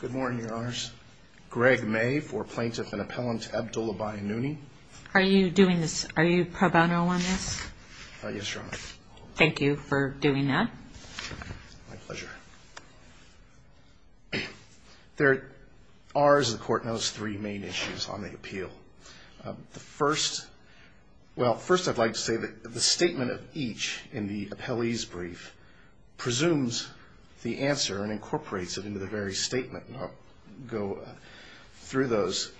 Good morning, Your Honors. Greg May for Plaintiff and Appellant Abdullah Bayanooni. Are you doing this, are you pro bono on this? Yes, Your Honor. Thank you for doing that. My pleasure. There are, as the Court knows, three main issues on the appeal. The first, well, first I'd like to say that the statement of each in the appellee's brief presumes the answer and incorporates it into the very statement. And I'll go through those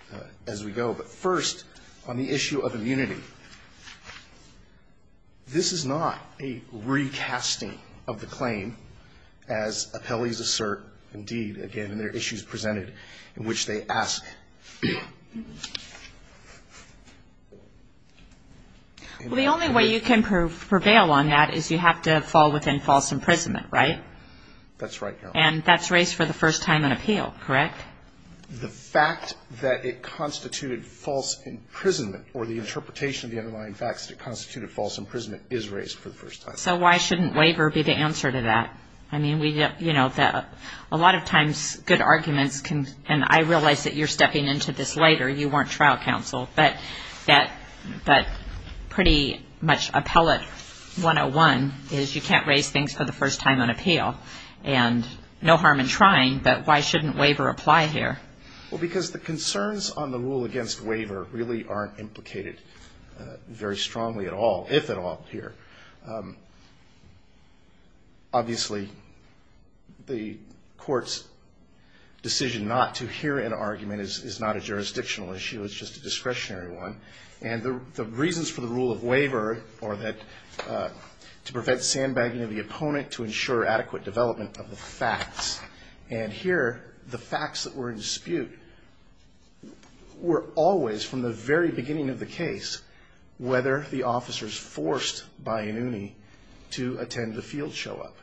as we go. But first, on the issue of immunity, this is not a recasting of the claim, as appellees assert, indeed, again, in their issues presented in which they ask. Well, the only way you can prevail on that is you have to fall within false imprisonment, right? That's right, Your Honor. And that's raised for the first time in appeal, correct? The fact that it constituted false imprisonment or the interpretation of the underlying facts that it constituted false imprisonment is raised for the first time. So why shouldn't waiver be the answer to that? I mean, we, you know, a lot of times good arguments can, and I realize that you're stepping into this later, you weren't trial counsel, but that pretty much appellate 101 is you can't raise things for the first time on appeal. And no harm in trying, but why shouldn't waiver apply here? Well, because the concerns on the rule against waiver really aren't implicated very strongly at all, if at all, here. Obviously, the court's decision not to hear an argument is not a jurisdictional issue. It's just a discretionary one. And the reasons for the rule of waiver are that to prevent sandbagging of the opponent, to ensure adequate development of the facts. And here, the facts that were in dispute were always, from the very beginning of the case, whether the officer is forced by an UNI to attend the field show-up.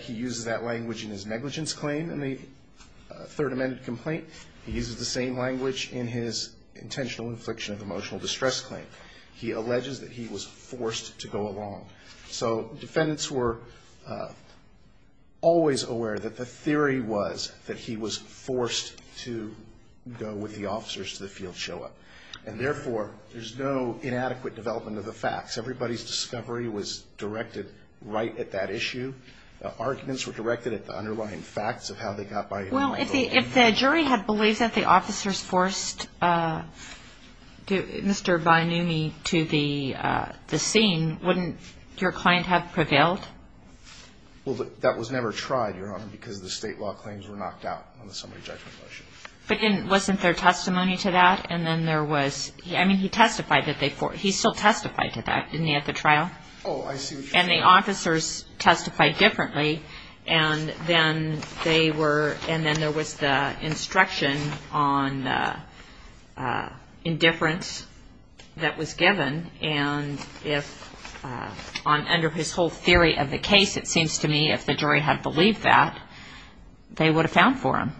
He uses that language in his negligence claim in the Third Amendment complaint. He uses the same language in his intentional infliction of emotional distress claim. He alleges that he was forced to go along. So defendants were always aware that the theory was that he was forced to go with the officers to the field show-up. And therefore, there's no inadequate development of the facts. Everybody's discovery was directed right at that issue. The arguments were directed at the underlying facts of how they got by. Well, if the jury had believed that the officers forced Mr. Bainumi to the scene, wouldn't your client have prevailed? Well, that was never tried, Your Honor, because the State law claims were knocked out on the summary judgment motion. But wasn't there testimony to that? And then there was – I mean, he testified that they – he still testified to that, didn't he, at the trial? Oh, I see what you're saying. And the officers testified differently. And then they were – and then there was the instruction on indifference that was given. And if – under his whole theory of the case, it seems to me, if the jury had believed that, they would have found for him.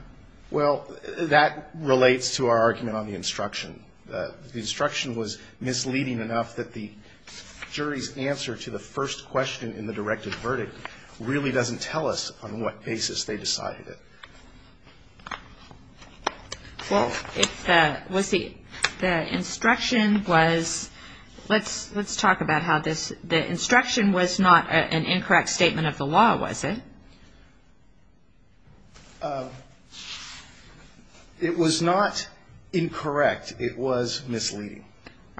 Well, that relates to our argument on the instruction. The instruction was misleading enough that the jury's answer to the first question in the directed verdict really doesn't tell us on what basis they decided it. Well, if the – was the instruction was – let's talk about how this – the instruction was not an incorrect statement of the law, was it? It was not incorrect. It was misleading.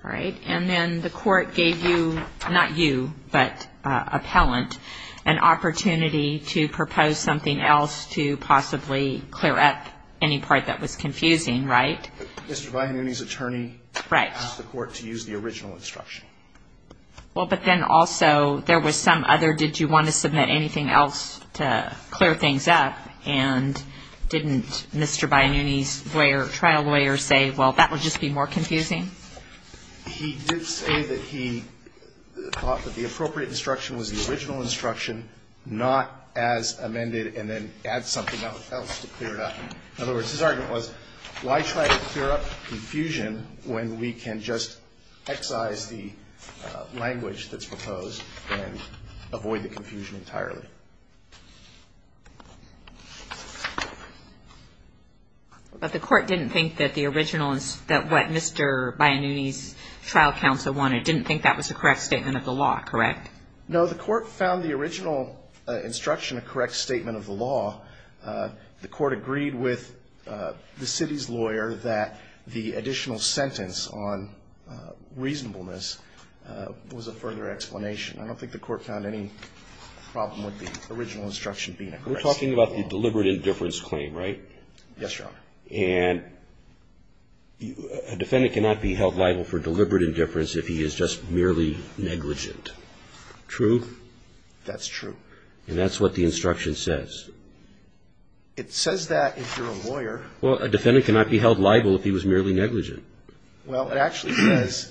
All right. And then the court gave you – not you, but appellant – an opportunity to propose something else to possibly clear up any part that was confusing, right? Mr. Viannoni's attorney asked the court to use the original instruction. Right. Well, but then also there was some other – did you want to submit anything else to the jury? Did you want to clear things up? And didn't Mr. Viannoni's lawyer – trial lawyer say, well, that would just be more confusing? He did say that he thought that the appropriate instruction was the original instruction, not as amended and then add something else to clear it up. In other words, his argument was, why try to clear up confusion when we can just excise the language that's proposed and avoid the confusion entirely. But the court didn't think that the original – that what Mr. Viannoni's trial counsel wanted, didn't think that was a correct statement of the law, correct? No, the court found the original instruction a correct statement of the law. The court agreed with the city's lawyer that the additional sentence on reasonableness was a further explanation. I don't think the court found any problem with the original instruction being a correct statement of the law. We're talking about the deliberate indifference claim, right? Yes, Your Honor. And a defendant cannot be held liable for deliberate indifference if he is just merely negligent. True? That's true. And that's what the instruction says. It says that if you're a lawyer – Well, a defendant cannot be held liable if he was merely negligent. Well, it actually says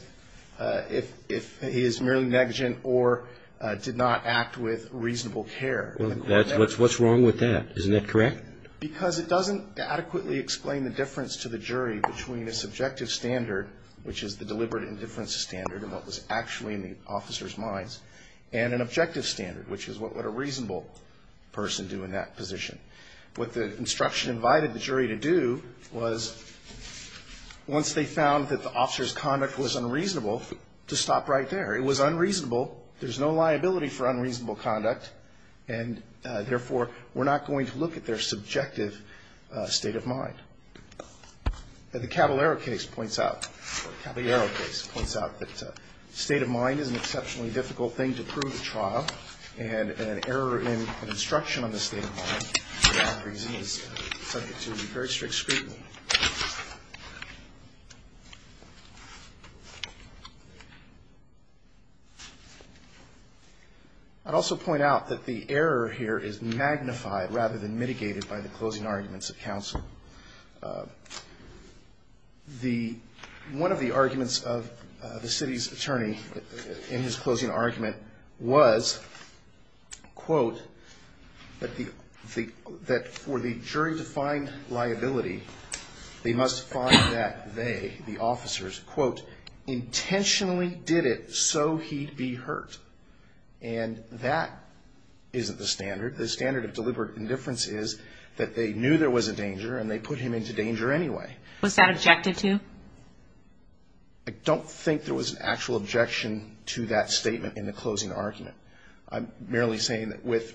if he is merely negligent or did not act with reasonable care. Well, what's wrong with that? Isn't that correct? Because it doesn't adequately explain the difference to the jury between a subjective standard, which is the deliberate indifference standard and what was actually in the officer's minds, and an objective standard, which is what would a reasonable person do in that position. What the instruction invited the jury to do was, once they found that the officer's conduct was unreasonable, to stop right there. It was unreasonable. There's no liability for unreasonable conduct, and, therefore, we're not going to look at their subjective state of mind. The Caballero case points out that state of mind is an exceptionally difficult thing to prove at trial, and an error in an instruction on the state of mind for that reason is subject to very strict scrutiny. I'd also point out that the error here is magnified rather than mitigated by the closing arguments of counsel. The – one of the arguments of the city's attorney in his closing argument is that the statement was, quote, that for the jury to find liability, they must find that they, the officers, quote, intentionally did it so he'd be hurt. And that isn't the standard. The standard of deliberate indifference is that they knew there was a danger, and they put him into danger anyway. Was that objected to? I don't think there was an actual objection to that statement in the closing argument. I'm merely saying that with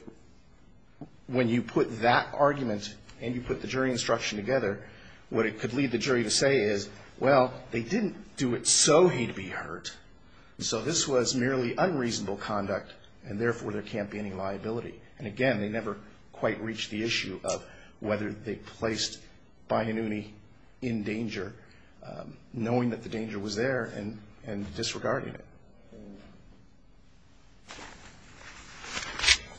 – when you put that argument and you put the jury instruction together, what it could lead the jury to say is, well, they didn't do it so he'd be hurt. So this was merely unreasonable conduct, and, therefore, there can't be any liability. And, again, they never quite reached the issue of whether they placed Bainuni in danger, knowing that the danger was there and disregarding it.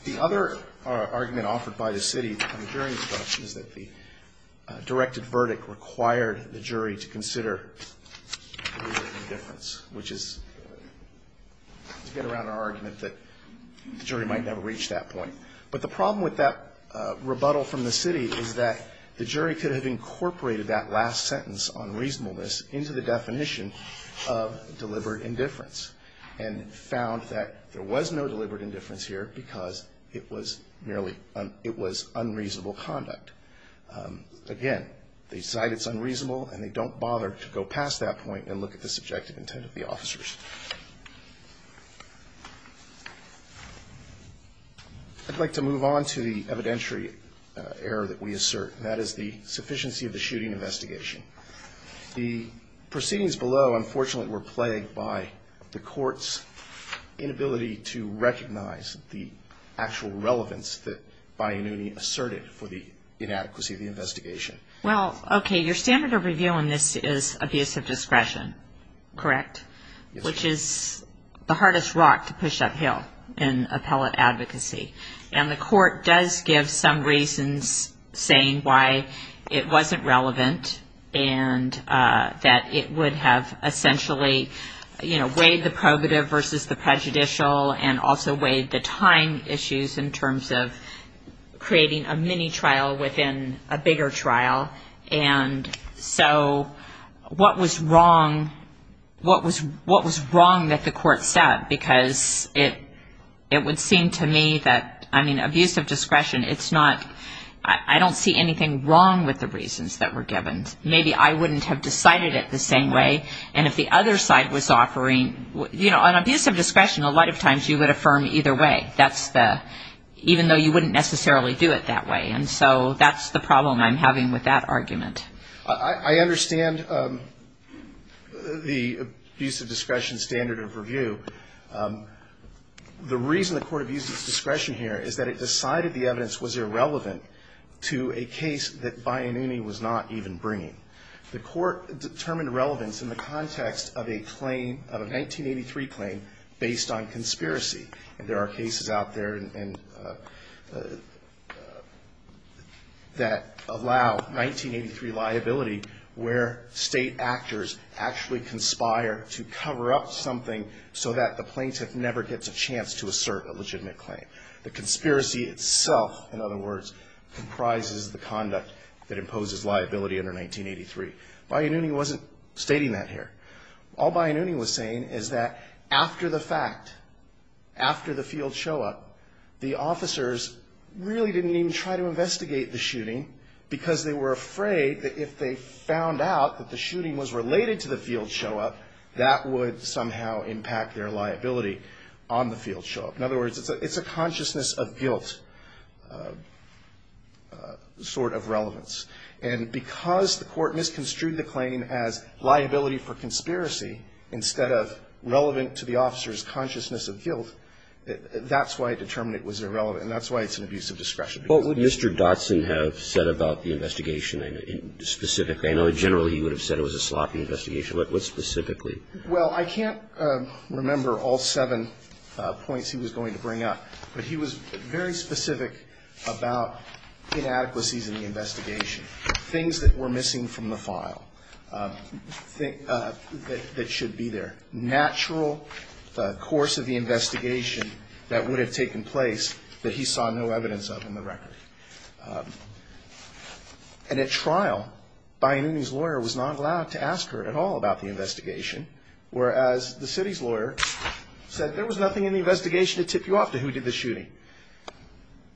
The other argument offered by the city on the jury instruction is that the directed verdict required the jury to consider deliberate indifference, which is to get around our But the problem with that rebuttal from the city is that the jury could have incorporated that last sentence on reasonableness into the definition of deliberate indifference and found that there was no deliberate indifference here because it was merely – it was unreasonable conduct. Again, they cite it's unreasonable, and they don't bother to go past that point and look at the subjective intent of the officers. I'd like to move on to the evidentiary error that we assert, and that is the sufficiency of the shooting investigation. The proceedings below, unfortunately, were plagued by the court's inability to recognize the actual relevance that Bainuni asserted for the inadequacy of the investigation. Well, okay, your standard of review on this is abuse of discretion, correct? Yes. Which is the hardest rock to push uphill in appellate advocacy. And the court does give some reasons saying why it wasn't relevant and that it would have essentially weighed the probative versus the prejudicial and also weighed the time issues in terms of creating a mini trial within a bigger trial. And so what was wrong, what was wrong that the court said? Because it would seem to me that, I mean, abuse of discretion, it's not – I don't see anything wrong with the reasons that were given. Maybe I wouldn't have decided it the same way. And if the other side was offering – you know, on abuse of discretion, a lot of times you would affirm either way. That's the – even though you wouldn't necessarily do it that way. And so that's the problem I'm having with that argument. I understand the abuse of discretion standard of review. The reason the court abuses discretion here is that it decided the evidence was irrelevant to a case that Bainuni was not even bringing. The court determined relevance in the context of a claim – of a 1983 claim based on conspiracy. And there are cases out there that allow 1983 liability where State actors actually conspire to cover up something so that the plaintiff never gets a chance to assert a legitimate claim. The conspiracy itself, in other words, comprises the conduct that imposes liability under 1983. Bainuni wasn't stating that here. All Bainuni was saying is that after the fact, after the field show-up, the officers really didn't even try to investigate the shooting because they were afraid that if they found out that the shooting was related to the field show-up, that would somehow impact their liability on the field show-up. In other words, it's a consciousness of guilt sort of relevance. And because the court misconstrued the claim as liability for conspiracy instead of relevant to the officer's consciousness of guilt, that's why it determined it was irrelevant and that's why it's an abuse of discretion. What would Mr. Dotson have said about the investigation specifically? I know generally he would have said it was a sloppy investigation, but what specifically? Well, I can't remember all seven points he was going to bring up, but he was very specific about inadequacies in the investigation, things that were missing from the file that should be there, natural course of the investigation that would have taken place that he saw no evidence of in the record. And at trial, Bainuni's lawyer was not allowed to ask her at all about the investigation, whereas the city's lawyer said there was nothing in the investigation to tip you off to who did the shooting.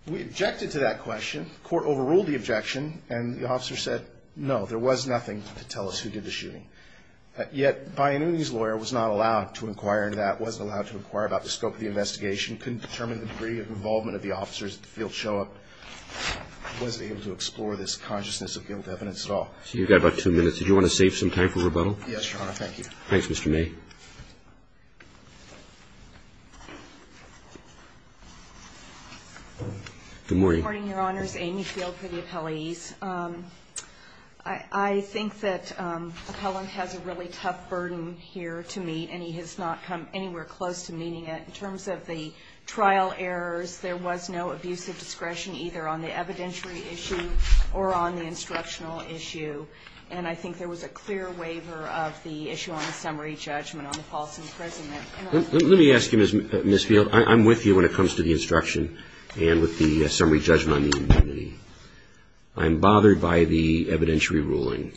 We objected to that question. The court overruled the objection, and the officer said no, there was nothing to tell us who did the shooting. Yet Bainuni's lawyer was not allowed to inquire into that, wasn't allowed to inquire about the scope of the investigation, couldn't determine the degree of involvement of the officers at the field show-up, wasn't able to explore this consciousness of guilt evidence at all. You've got about two minutes. Did you want to save some time for rebuttal? Yes, Your Honor, thank you. Thanks, Mr. May. Good morning. Good morning, Your Honors. Amy Field for the appellees. I think that Appellant has a really tough burden here to meet, and he has not come anywhere close to meeting it. In terms of the trial errors, there was no abusive discretion either on the evidentiary issue or on the instructional issue. And I think there was a clear waiver of the issue on the summary judgment on the false imprisonment. Let me ask you, Ms. Field. I'm with you when it comes to the instruction and with the summary judgment on the indemnity. I'm bothered by the evidentiary ruling.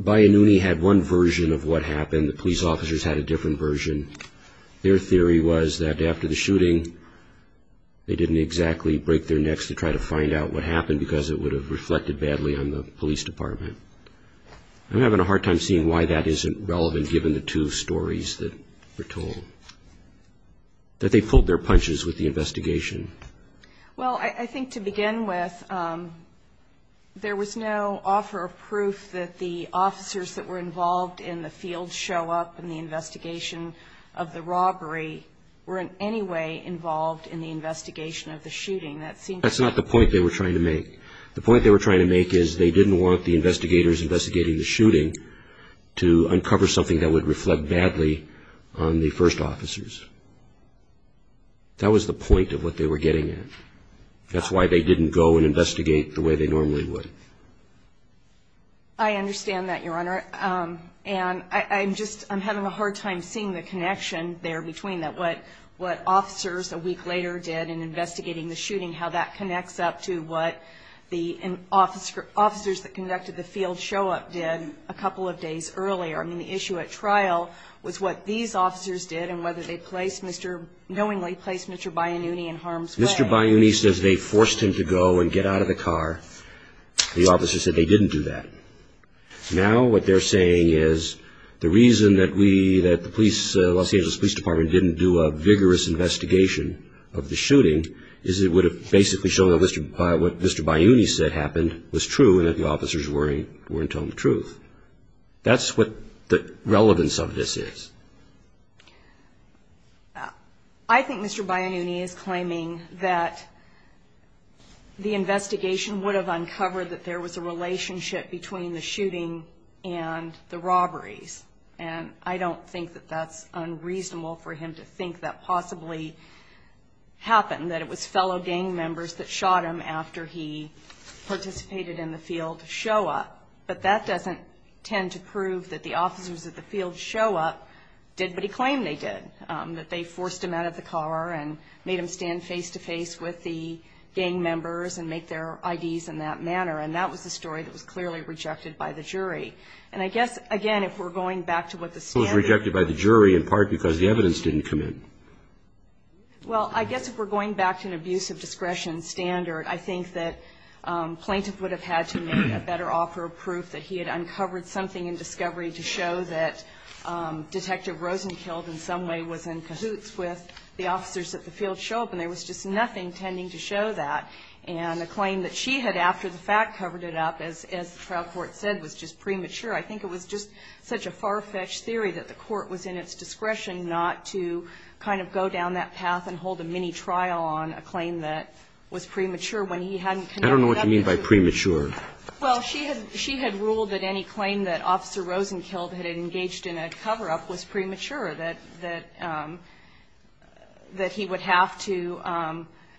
Bainuni had one version of what happened. The police officers had a different version. Their theory was that after the shooting, they didn't exactly break their necks to try to find out what would have reflected badly on the police department. I'm having a hard time seeing why that isn't relevant, given the two stories that were told, that they pulled their punches with the investigation. Well, I think to begin with, there was no offer of proof that the officers that were involved in the field show up in the investigation of the robbery were in any way involved in the investigation of the shooting. That's not the point they were trying to make. The point they were trying to make is they didn't want the investigators investigating the shooting to uncover something that would reflect badly on the first officers. That was the point of what they were getting at. That's why they didn't go and investigate the way they normally would. I understand that, Your Honor. And I'm just having a hard time seeing the connection there between what officers a week later did in investigating the shooting, how that connects up to what the officers that conducted the field show up did a couple of days earlier. I mean, the issue at trial was what these officers did and whether they placed Mr. knowingly placed Mr. Bayouni in harm's way. Mr. Bayouni says they forced him to go and get out of the car. The officer said they didn't do that. Now what they're saying is the reason that we, that the police, Los Angeles Police Department, didn't do a vigorous investigation of the shooting is it would have basically shown what Mr. Bayouni said happened was true and that the officers weren't telling the truth. That's what the relevance of this is. I think Mr. Bayouni is claiming that the investigation would have uncovered that there was a relationship between the shooting and the robberies. And I don't think that that's unreasonable for him to think that possibly happened, that it was fellow gang members that shot him after he participated in the field show up. But that doesn't tend to prove that the officers at the field show up did what he claimed they did, that they forced him out of the car and made him stand face-to-face with the gang members and make their IDs in that manner. And that was the story that was clearly rejected by the jury. And I guess, again, if we're going back to what the standard is. It was rejected by the jury in part because the evidence didn't come in. Well, I guess if we're going back to an abuse of discretion standard, I think that Plaintiff would have had to make a better offer of proof that he had uncovered something in discovery to show that Detective Rosenkild in some way was in cahoots with the officers at the field show up, and there was just nothing tending to show that. And a claim that she had, after the fact, covered it up, as the trial court said, was just premature. I think it was just such a far-fetched theory that the court was in its discretion not to kind of go down that path and hold a mini-trial on a claim that was premature when he hadn't connected it up. I don't know what you mean by premature. Well, she had ruled that any claim that Officer Rosenkild had engaged in a cover-up was premature, that he would have to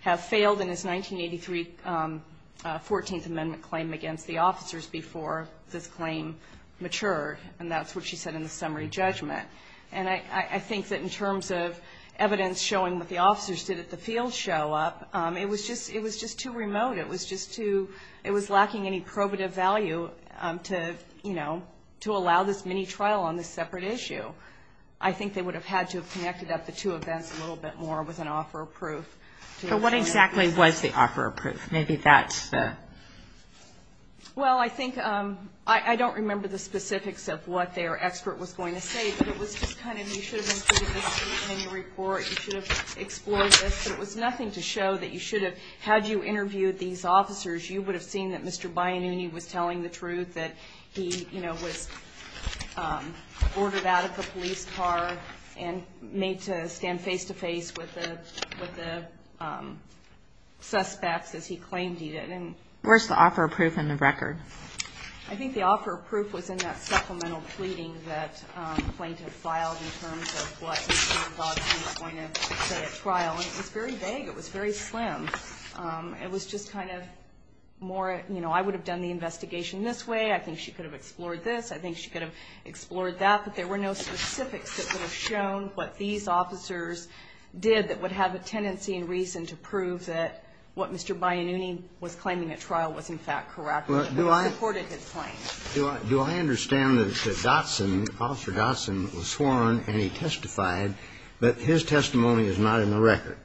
have failed in his 1983 14th Amendment claim against the officers before this claim matured. And that's what she said in the summary judgment. And I think that in terms of evidence showing what the officers did at the field show up, it was just too remote. It was just too ‑‑ it was lacking any probative value to, you know, to allow this mini-trial on this separate issue. I think they would have had to have connected up the two events a little bit more with an offer of proof. But what exactly was the offer of proof? Maybe that's the ‑‑ Well, I think ‑‑ I don't remember the specifics of what their expert was going to say, but it was just kind of you should have included this statement in your report. You should have explored this. But it was nothing to show that you should have ‑‑ had you interviewed these officers, you would have seen that Mr. Biannini was telling the truth, that he, you know, was ordered out of the police car and made to stand face-to-face with the suspects as he claimed he did. Where's the offer of proof in the record? I think the offer of proof was in that supplemental pleading that the plaintiff filed in terms of what he thought he was going to say at trial. And it was very vague. It was very slim. It was just kind of more, you know, I would have done the investigation this way. I think she could have explored this. I think she could have explored that. But there were no specifics that would have shown what these officers did that would have a tendency and reason to prove that what Mr. Biannini was claiming at trial was in fact correct and supported his claim. Do I understand that Dotson, Officer Dotson, was sworn and he testified, but his testimony is not in the record?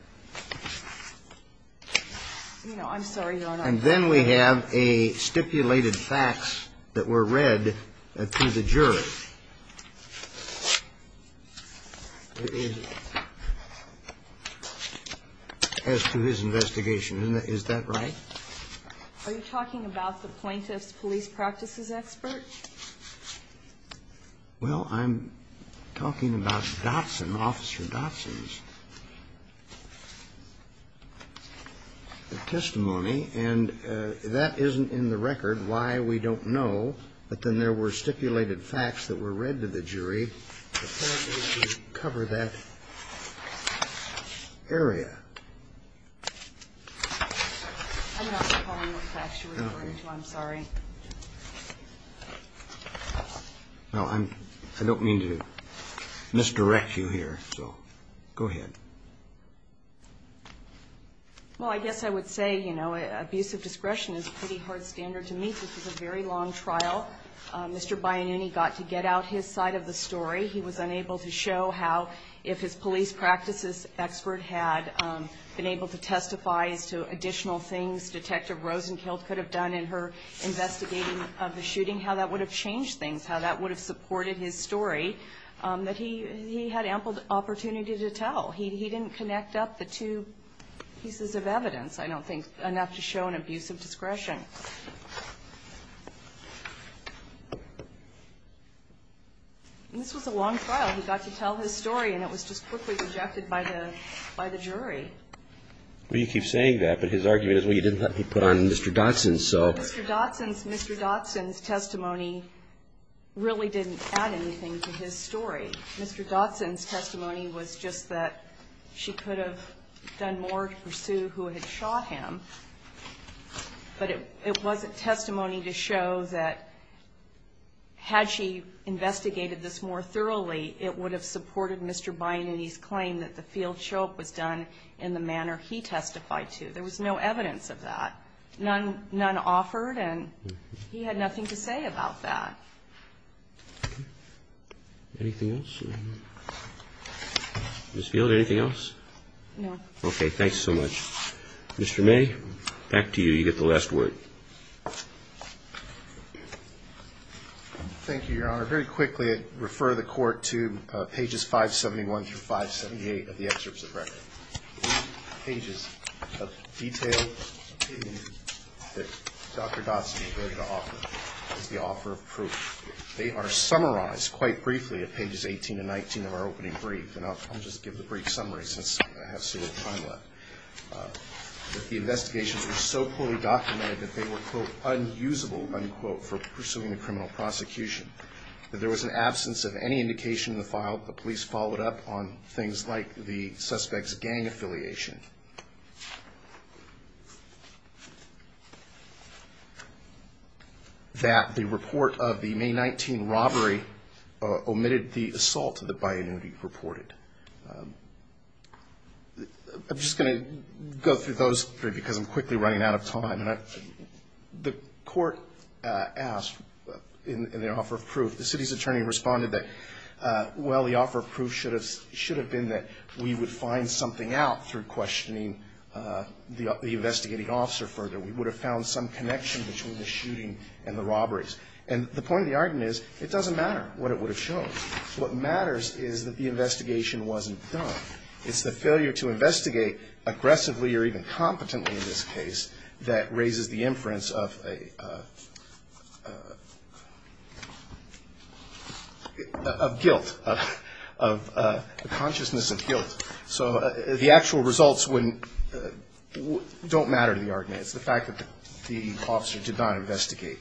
No, I'm sorry, Your Honor. And then we have a stipulated fax that were read to the jury. As to his investigation, is that right? Are you talking about the plaintiff's police practices expert? Well, I'm talking about Dotson, Officer Dotson's. The testimony, and that isn't in the record why we don't know. But then there were stipulated fax that were read to the jury to cover that area. I'm not recalling what fax you're referring to. I'm sorry. No, I don't mean to misdirect you here. So go ahead. Well, I guess I would say, you know, abusive discretion is a pretty hard standard to meet. This was a very long trial. Mr. Biannini got to get out his side of the story. He was unable to show how if his police practices expert had been able to testify as to additional things Detective Rosenkild could have done in her investigating of the shooting, how that would have changed things, how that would have supported his story, that he had ample opportunity to tell. He didn't connect up the two pieces of evidence, I don't think, enough to show an abusive discretion. And this was a long trial. He got to tell his story, and it was just quickly rejected by the jury. Well, you keep saying that, but his argument is, well, you didn't let him put on Mr. Dotson, so. Mr. Dotson's testimony really didn't add anything to his story. Mr. Dotson's testimony was just that she could have done more to pursue who had shot him, but it wasn't testimony to show that had she investigated this more thoroughly, it would have supported Mr. Biannini's claim that the field choke was done in the manner he testified to. There was no evidence of that. None offered, and he had nothing to say about that. Anything else? Ms. Field, anything else? No. Okay. Thanks so much. Mr. May, back to you. You get the last word. Thank you, Your Honor. Very quickly, I'd refer the Court to pages 571 through 578 of the excerpts of record. These pages of detailed opinion that Dr. Dotson is ready to offer is the offer of proof. They are summarized quite briefly at pages 18 and 19 of our opening brief, and I'll just give the brief summary since I have so little time left. The investigations were so poorly documented that they were, quote, unusable, unquote, for pursuing a criminal prosecution. That there was an absence of any indication in the file. The police followed up on things like the suspect's gang affiliation. That the report of the May 19 robbery omitted the assault that Biannini reported. I'm just going to go through those three because I'm quickly running out of time. The Court asked in the offer of proof, the city's attorney responded that, well, the offer of proof should have been that we would find something out through questioning the investigating officer further. We would have found some connection between the shooting and the robberies. And the point of the argument is it doesn't matter what it would have shown. What matters is that the investigation wasn't done. It's the failure to investigate aggressively or even competently in this case that raises the inference of guilt, of consciousness of guilt. So the actual results don't matter to the argument. It's the fact that the officer did not investigate.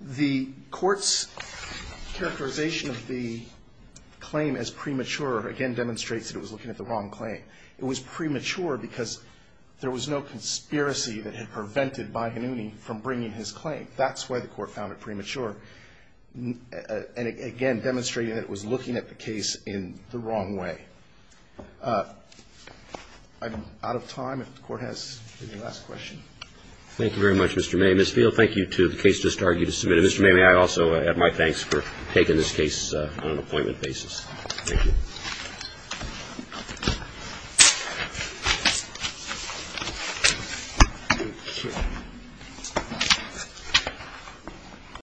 The Court's characterization of the claim as premature again demonstrates that it was looking at the wrong claim. It was premature because there was no conspiracy that had prevented Biannini from bringing his claim. That's why the Court found it premature. And again, demonstrating that it was looking at the case in the wrong way. I'm out of time. If the Court has any last questions. Roberts. Thank you very much, Mr. May. Ms. Field, thank you to the case just argued and submitted. Mr. May, may I also add my thanks for taking this case on an appointment basis. Thank you. Thank you.